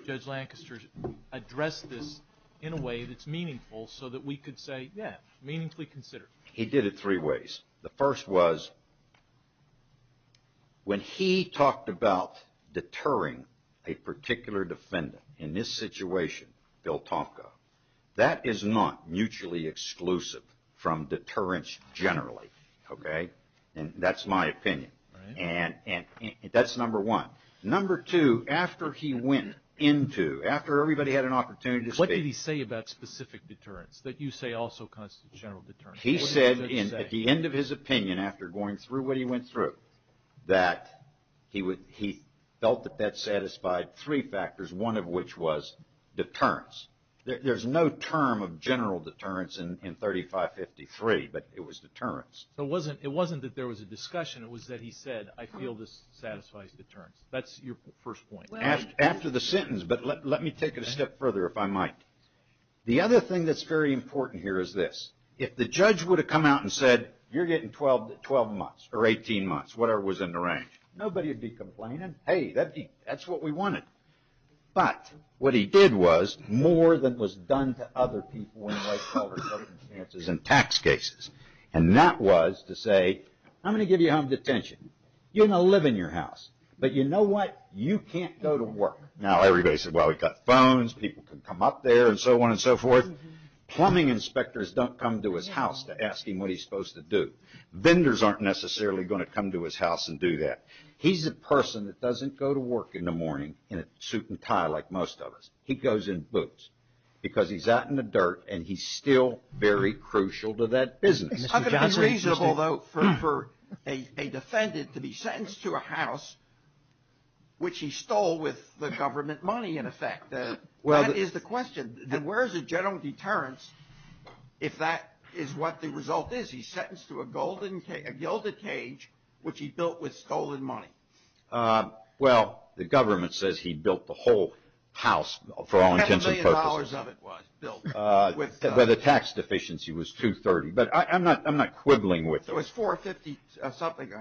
Judge Lancaster addressed this in a way that's meaningful so that we could say, yeah, meaningfully considered. He did it three ways. The first was when he talked about deterring a particular defendant, in this situation, Bill Tomko, that is not mutually exclusive from deterrence generally. That's my opinion. That's number one. Number two, after he went into, after everybody had an opportunity to speak. What did he say about specific deterrence that you say also constitutes general deterrence? He said at the end of his opinion after going through what he went through, that he felt that that satisfied three factors. One of which was deterrence. There's no term of general deterrence in 3553, but it was deterrence. It wasn't that there was a discussion. It was that he said, I feel this satisfies deterrence. That's your first point. After the sentence, but let me take it a step further if I might. The other thing that's very important here is this. If the judge would have come out and said, you're getting 12 months or 18 months, whatever was in the range. Nobody would be complaining. Hey, that's what we wanted. But what he did was more than was done to other people in life circumstances and tax cases. And that was to say, I'm going to give you home detention. You're going to live in your house, but you know what? You can't go to work. Now, everybody said, well, we've got phones. People can come up there and so on and so forth. Plumbing inspectors don't come to his house to ask him what he's supposed to do. Vendors aren't necessarily going to come to his house and do that. He's a person that doesn't go to work in the morning in a suit and tie like most of us. He goes in boots because he's out in the dirt and he's still very crucial to that business. How could it be reasonable, though, for a defendant to be sentenced to a house which he stole with the government money, in effect? Well, that is the question. And where is the general deterrence if that is what the result is? He's sentenced to a golden cage, a gilded cage, which he built with stolen money. Well, the government says he built the whole house for all intents and purposes. The tax deficiency was $230,000. But I'm not quibbling with it. So it was $450,000 or something?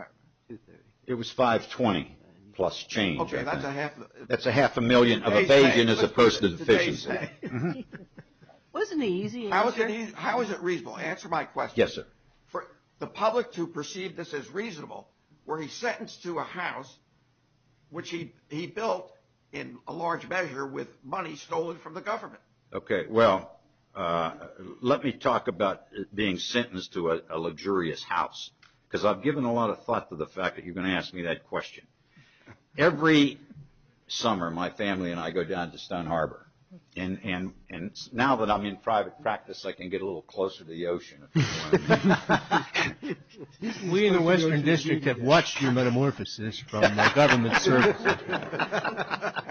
It was $520,000 plus change. OK, that's a half a million of a vagrant as opposed to a deficient. Wasn't the easy answer? How is it reasonable? Answer my question. Yes, sir. For the public to perceive this as reasonable, were he sentenced to a house which he built in a large measure with money stolen from the government? OK, well, let me talk about being sentenced to a luxurious house because I've given a lot of thought to the fact that you're going to ask me that question. Every summer, my family and I go down to Stone Harbor. And now that I'm in private practice, I can get a little closer to the ocean. We in the Western District have watched your metamorphosis from my government service.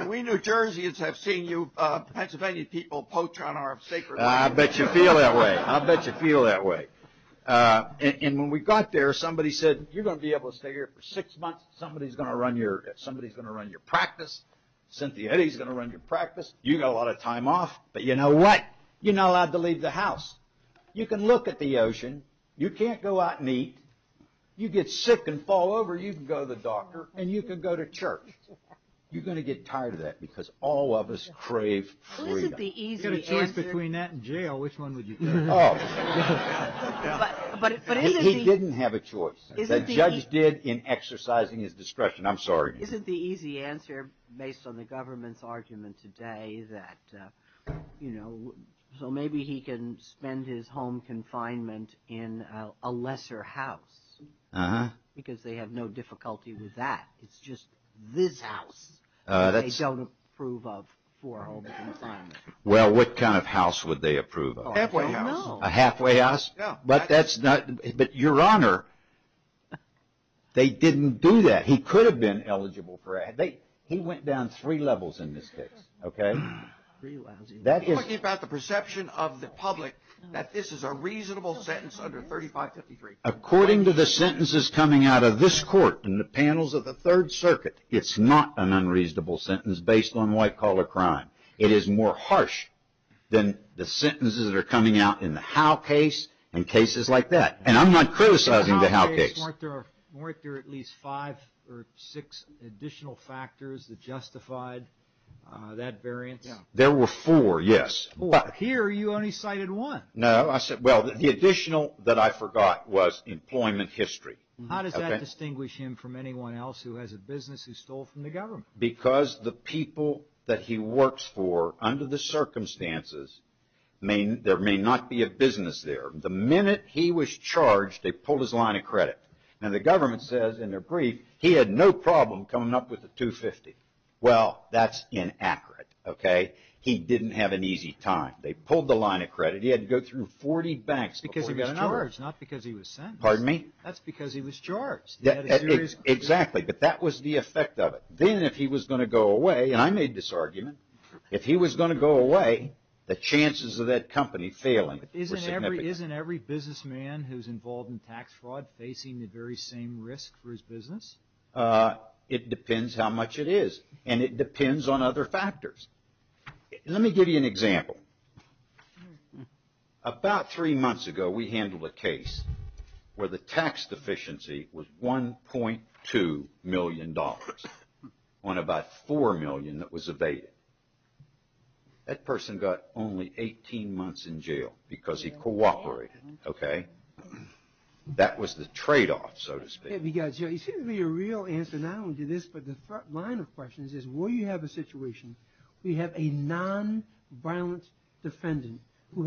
We New Jerseyans have seen you, Pennsylvania people, poach on our sacred land. I bet you feel that way. I bet you feel that way. And when we got there, somebody said, you're going to be able to stay here for six months. Somebody's going to run your practice. Cynthia, Eddie's going to run your practice. You've got a lot of time off. But you know what? You're not allowed to leave the house. You can look at the ocean. You can't go out and eat. You get sick and fall over. You can go to the doctor and you can go to church. You're going to get tired of that because all of us crave freedom. If you had a choice between that and jail, which one would you choose? Oh, he didn't have a choice. The judge did in exercising his discretion. I'm sorry. Isn't the easy answer based on the government's argument today that, you know, so maybe he can spend his home confinement in a lesser house because they have no difficulty with that. It's just this house they don't approve of for home confinement. Well, what kind of house would they approve of? Halfway house. A halfway house? Yeah. But that's not... But your honor, they didn't do that. He could have been eligible for... He went down three levels in this case. Okay. That is... Are you talking about the perception of the public that this is a reasonable sentence under 3553? According to the sentences coming out of this court and the panels of the Third Circuit, it's not an unreasonable sentence based on white collar crime. It is more harsh than the sentences that are coming out in the Howe case and cases like that. And I'm not criticizing the Howe case. Weren't there at least five or six additional factors that justified that variance? There were four, yes. Here, you only cited one. No, I said... Well, the additional that I forgot was employment history. How does that distinguish him from anyone else who has a business who stole from the government? Because the people that he works for under the circumstances, there may not be a business there. The minute he was charged, they pulled his line of credit. And the government says in their brief, he had no problem coming up with a 250. Well, that's inaccurate, okay? He didn't have an easy time. They pulled the line of credit. He had to go through 40 banks because he was charged. Not because he was sentenced. Pardon me? That's because he was charged. Exactly. But that was the effect of it. Then if he was going to go away, and I made this argument, if he was going to go away, the chances of that company failing were significant. Isn't every businessman who's involved in tax fraud facing the very same risk for his business? It depends how much it is. And it depends on other factors. Let me give you an example. About three months ago, we handled a case where the tax deficiency was $1.2 million on about $4 million that was evaded. That person got only 18 months in jail because he cooperated, okay? That was the trade-off, so to speak. Yeah, because it seems to be a real answer, not only to this, but the front line of questions is will you have a situation where you have a non-violent defendant who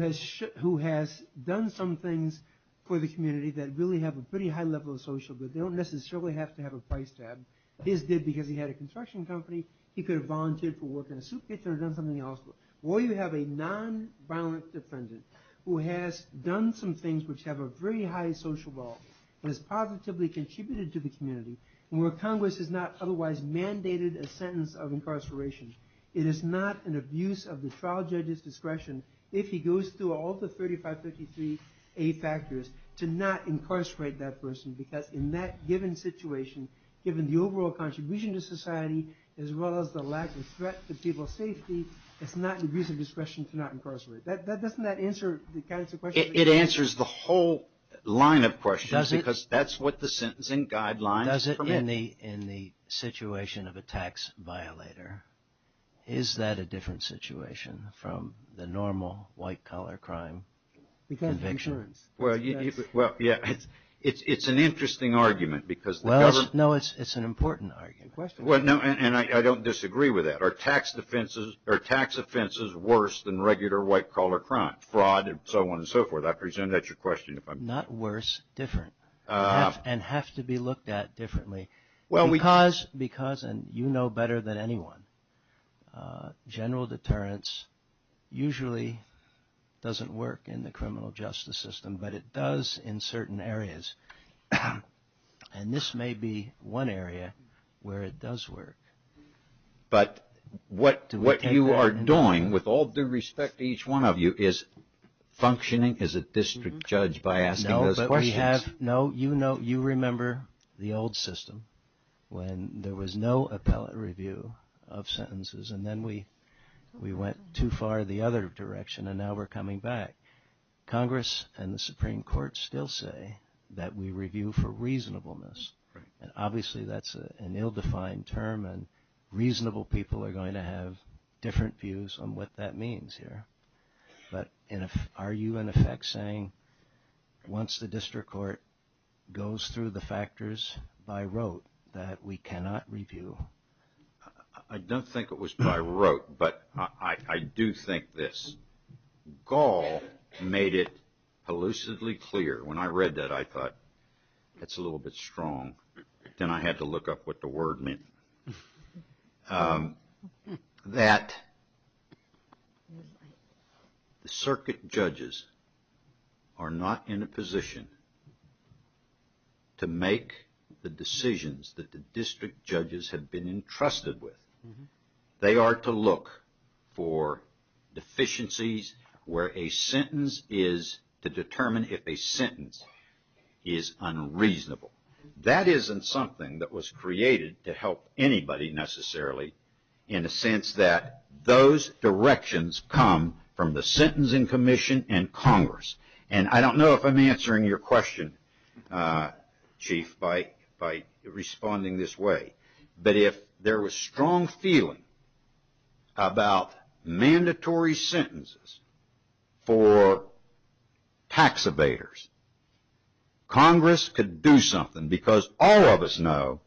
has done some things for the community that really have a pretty high level of social good? They don't necessarily have to have a price tag. His did because he had a construction company. He could have volunteered for work in a soup kitchen or done something else. Or you have a non-violent defendant who has done some things which have a very high social ball and has positively contributed to the community and where Congress has not otherwise mandated a sentence of incarceration. It is not an abuse of the trial judge's discretion if he goes through all the 3533A factors to not incarcerate that person because in that given situation, given the overall contribution to society, as well as the lack of threat to people's safety, it's not an abuse of discretion to not incarcerate. Doesn't that answer the kind of question? It answers the whole line of questions because that's what the sentencing guidelines permit. Does it in the situation of a tax violator? Is that a different situation from the normal white-collar crime conviction? Well, yeah. It's an interesting argument because the government... No, it's an important argument. And I don't disagree with that. Are tax offenses worse than regular white-collar crime, fraud and so on and so forth? I presume that's your question. Not worse, different. And have to be looked at differently because, and you know better than anyone, general deterrence usually doesn't work in the criminal justice system, but it does in certain areas. And this may be one area where it does work. But what you are doing, with all due respect to each one of you, is functioning as a district judge by asking those questions. No, you remember the old system when there was no appellate review of sentences and then we went too far the other direction and now we're coming back. Congress and the Supreme Court still say that we review for reasonableness. And obviously that's an ill-defined term and reasonable people are going to have different views on what that means here. But are you, in effect, saying once the district court goes through the factors by rote that we cannot review I don't think it was by rote, but I do think this. Gall made it elusively clear when I read that I thought that's a little bit strong. Then I had to look up what the word meant. That the circuit judges are not in a position to make the decisions that the district judges have been entrusted with. They are to look for deficiencies where a sentence is to determine if a sentence is unreasonable. That isn't something that was created to help anybody necessarily in a sense that those directions come from the Sentencing Commission and Congress. And I don't know if I'm answering your question, Chief, by responding this way. But if there was strong feeling about mandatory sentences for tax evaders, Congress could do something because all of us know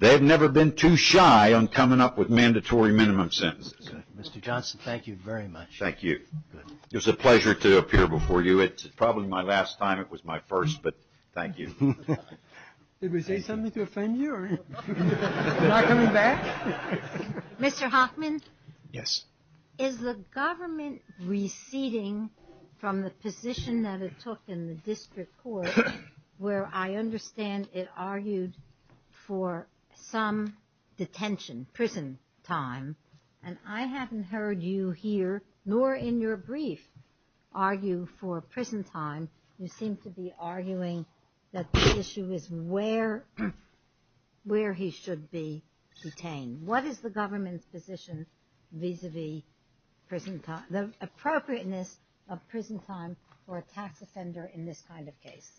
they've never been too shy on coming up with mandatory minimum sentences. Mr. Johnson, thank you very much. Thank you. It was a pleasure to appear before you. It's probably my last time. It was my first, but thank you. Did we say something to offend you? Am I coming back? Mr. Hoffman? Yes. Is the government receding from the position that it took in the district court where I understand it argued for some detention, prison time? And I haven't heard you here nor in your brief argue for prison time. You seem to be arguing that the issue is where where he should be detained. What is the government's position vis-a-vis prison time, the appropriateness of prison time for a tax offender in this kind of case?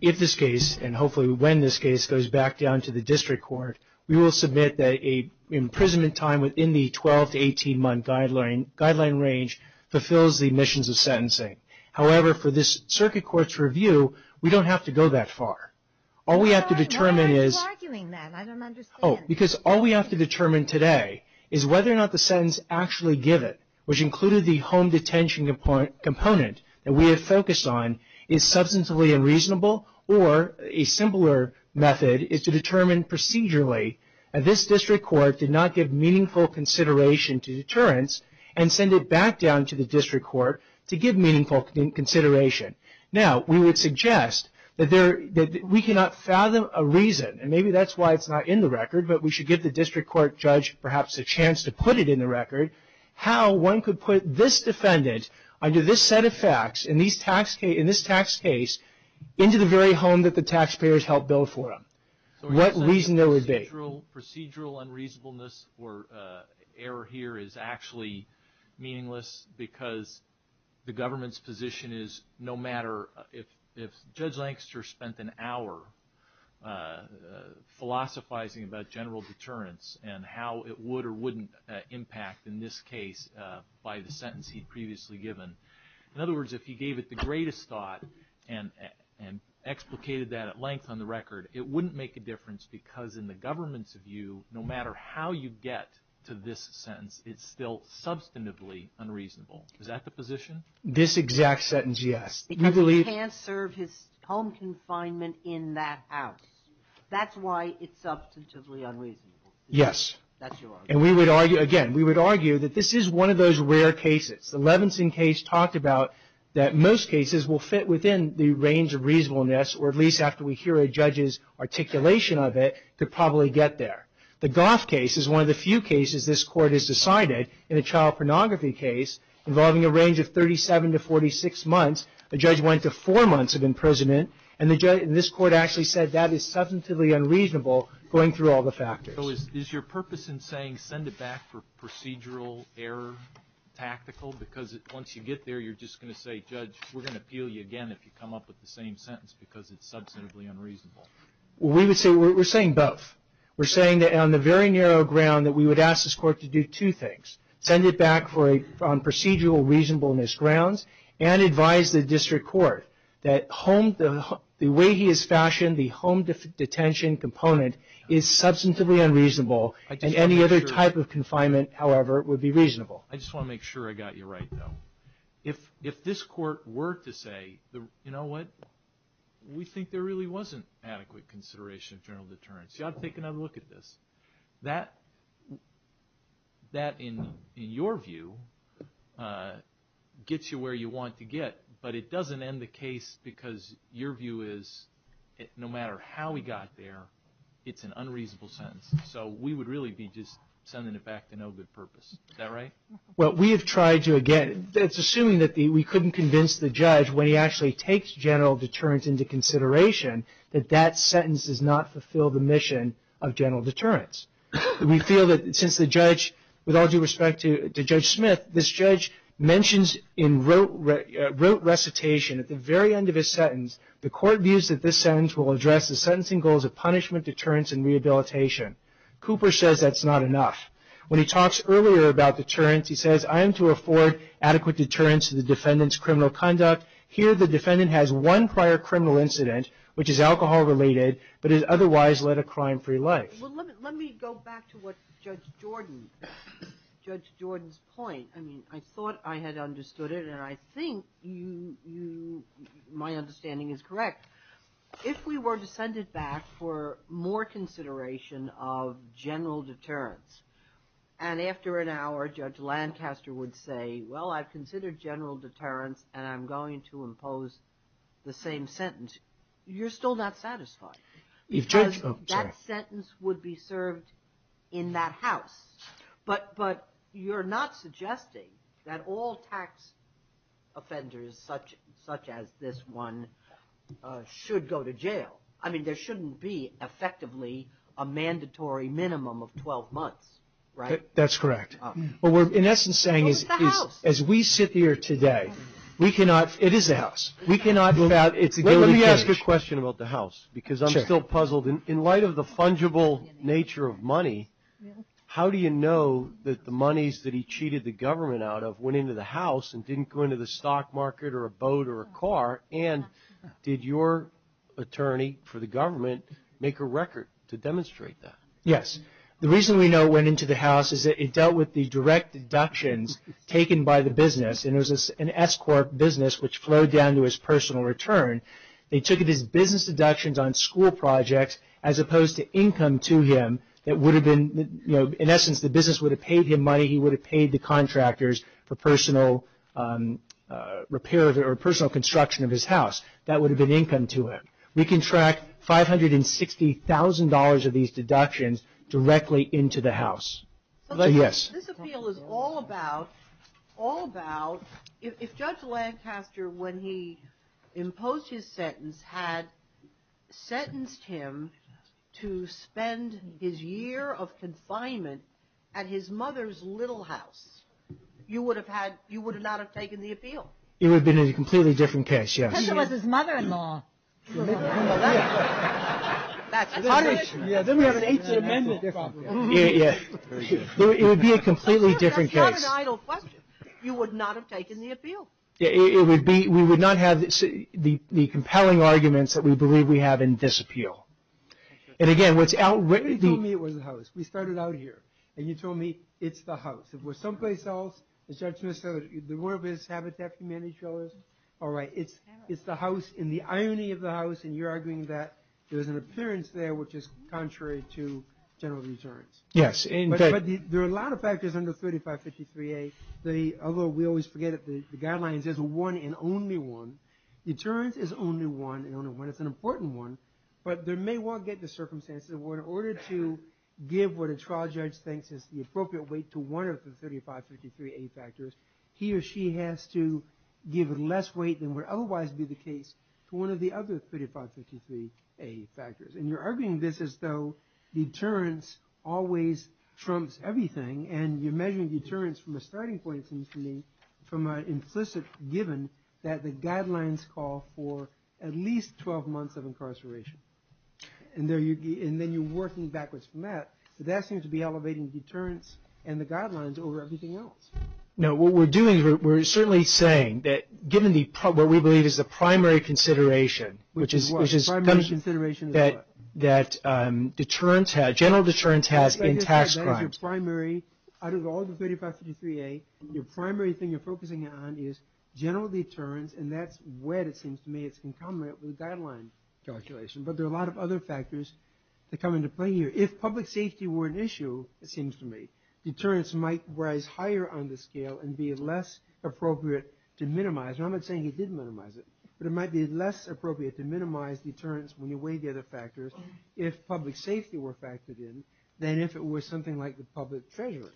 If this case, and hopefully when this case goes back down to the district court, we will submit that a imprisonment time within the 12 to 18 month guideline guideline range fulfills the missions of sentencing. However, for this circuit court's review, we don't have to go that far. All we have to determine is. Why are you arguing that? I don't understand. Oh, because all we have to determine today is whether or not the sentence actually give it, which included the home detention component that we have focused on is substantively unreasonable or a simpler method is to determine procedurally this district court did not give meaningful consideration to deterrence and send it back down to the district court to give meaningful consideration. Now, we would suggest that we cannot fathom a reason, and maybe that's why it's not in the record, but we should give the district court judge perhaps a chance to put it in the record. How one could put this defendant under this set of facts in this tax case into the very home that the taxpayers helped build for them. What reason there would be? Procedural unreasonableness or error here is actually meaningless because the government's position is no matter if Judge Lancaster spent an hour philosophizing about general deterrence and how it would or wouldn't impact in this case by the sentence he'd previously given. In other words, if he gave it the greatest thought and explicated that at length on the record, it wouldn't make a difference because in the government's view, no matter how you get to this sentence, it's still substantively unreasonable. Is that the position? This exact sentence, yes. Because he can't serve his home confinement in that house. That's why it's substantively unreasonable. Yes. And we would argue, again, we would argue that this is one of those rare cases. The Levinson case talked about that most cases will fit within the range of reasonableness or at least after we hear a judge's articulation of it could probably get there. The Goff case is one of the few cases this court has decided in a child pornography case involving a range of 37 to 46 months, a judge went to four months of imprisonment and this court actually said that is substantively unreasonable going through all the factors. So is your purpose in saying send it back for procedural error, tactical, because once you get there, you're just going to say, judge, we're going to appeal you again if you come up with the same sentence because it's substantively unreasonable. We would say we're saying both. We're saying that on the very narrow ground that we would ask this court to do two things, send it back for a procedural reasonableness grounds and advise the district court that the way he has fashioned the home detention component is substantively unreasonable and any other type of confinement, however, would be reasonable. I just want to make sure I got you right though. If this court were to say, you know what, we think there really wasn't adequate consideration of general deterrence. I'd take another look at this. That in your view gets you where you want to get, but it doesn't end the case because your view is no matter how we got there, it's an unreasonable sentence. So we would really be just sending it back to no good purpose. Is that right? Well, we have tried to again, it's assuming that we couldn't convince the judge when he actually takes general deterrence into consideration that that sentence does not fulfill the mission of general deterrence. We feel that since the judge, with all due respect to Judge Smith, this judge mentions in rote recitation at the very end of his sentence, the court views that this sentence will address the sentencing goals of punishment, deterrence, and rehabilitation. Cooper says that's not enough. When he talks earlier about deterrence, he says, I am to afford adequate deterrence to the defendant's criminal conduct. Here, the defendant has one prior criminal incident, which is alcohol related, but it otherwise led a crime-free life. Well, let me go back to what Judge Jordan, Judge Jordan's point. I mean, I thought I had understood it, and I think you, my understanding is correct. If we were to send it back for more consideration of general deterrence, and after an hour, Judge Lancaster would say, well, I've considered general deterrence, and I'm going to impose the same sentence. You're still not satisfied. That sentence would be served in that house. But you're not suggesting that all tax offenders such as this one should go to jail. I mean, there shouldn't be, effectively, a mandatory minimum of 12 months, right? That's correct. What we're, in essence, saying is, as we sit here today, we cannot, it is a house, we cannot, it's a guilty plea. Let me ask a question about the house, because I'm still puzzled. In light of the fungible nature of money, how do you know that the monies that he cheated the government out of went into the house and didn't go into the stock market or a boat or a car? And did your attorney for the government make a record to demonstrate that? Yes. The reason we know it went into the house is that it dealt with the direct deductions taken by the business, and it was an S-corp business which flowed down to his personal return. They took it as business deductions on school projects as opposed to income to him that would have been, you know, in essence, the business would have paid him money, he would have paid the contractors for personal repair or personal construction of his house. That would have been income to him. We can track $560,000 of these deductions directly into the house. Yes. This appeal is all about, all about, if Judge Lancaster, when he imposed his sentence, had sentenced him to spend his year of confinement at his mother's little house, you would have had, you would not have taken the appeal. It would have been a completely different case, yes. Because it was his mother-in-law. That's a hard issue. Yeah, then we have an 8th Amendment problem. Yeah, it would be a completely different case. That's not an idle question. You would not have taken the appeal. Yeah, it would be, we would not have the compelling arguments that we believe we have in this appeal. And again, what's outwritten... You told me it was the house. We started out here. And you told me, it's the house. If it was someplace else, the judge would have said, the word is Habitat for Humanity Showers. All right, it's the house, in the irony of the house, and you're arguing that there's an appearance there which is contrary to general deterrence. Yes. There are a lot of factors under 3553A. Although we always forget that the guidelines is a one and only one. Deterrence is only one, and only one. It's an important one. But there may well get the circumstances where in order to give what a trial judge thinks is the appropriate weight to one of the 3553A factors, he or she has to give less weight than would otherwise be the case to one of the other 3553A factors. And you're arguing this as though deterrence always trumps everything, and you're measuring deterrence from a starting point, it seems to me, from an implicit given that the guidelines call for at least 12 months of incarceration. And then you're working backwards from that, but that seems to be elevating deterrence and the guidelines over everything else. No, what we're doing, we're certainly saying that given what we believe is the primary consideration, which is that general deterrence has in tax crimes. That is your primary, out of all the 3553A, your primary thing you're focusing on is general deterrence, and that's where it seems to me it's concomitant with the guideline calculation, but there are a lot of other factors that come into play here. If public safety were an issue, it seems to me, deterrence might rise higher on the scale and be less appropriate to minimize, and I'm not saying he didn't minimize it, but it might be less appropriate to minimize deterrence when you weigh the other factors if public safety were factored in than if it were something like the public treasury.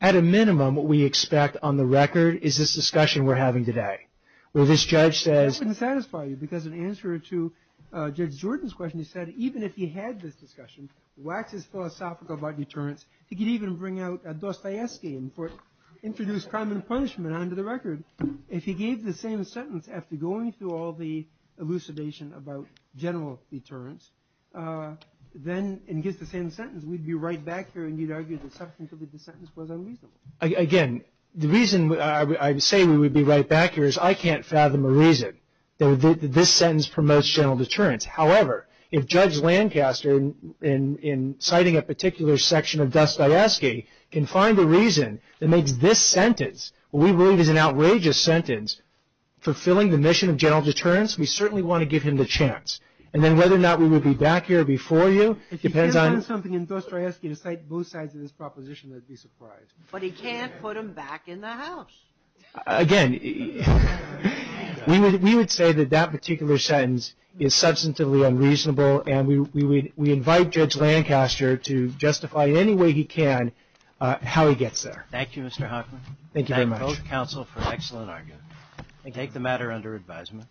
At a minimum, what we expect on the record is this discussion we're having today, where this judge says... That wouldn't satisfy you because in answer to Judge Jordan's question, he said even if he had this discussion, waxes philosophical about deterrence, he could even bring out a Dostoevsky and introduce crime and punishment onto the record. If he gave the same sentence after going through all the elucidation about general deterrence, then and gives the same sentence, we'd be right back here and you'd argue the substance of the sentence was unreasonable. Again, the reason I say we would be right back here is I can't fathom a reason this sentence promotes general deterrence. However, if Judge Lancaster in citing a particular section of Dostoevsky can find a reason that makes this sentence what we believe is an outrageous sentence fulfilling the mission of general deterrence, we certainly want to give him the chance. And then whether or not we would be back here before you depends on... If he can find something in Dostoevsky to cite both sides of this proposition, I'd be surprised. But he can't put him back in the house. Again, we would say that that particular sentence is substantively unreasonable and we invite Judge Lancaster to justify any way he can how he gets there. Thank you, Mr. Hochman. Thank you very much. Thank both counsel for an excellent argument. And take the matter under advisement.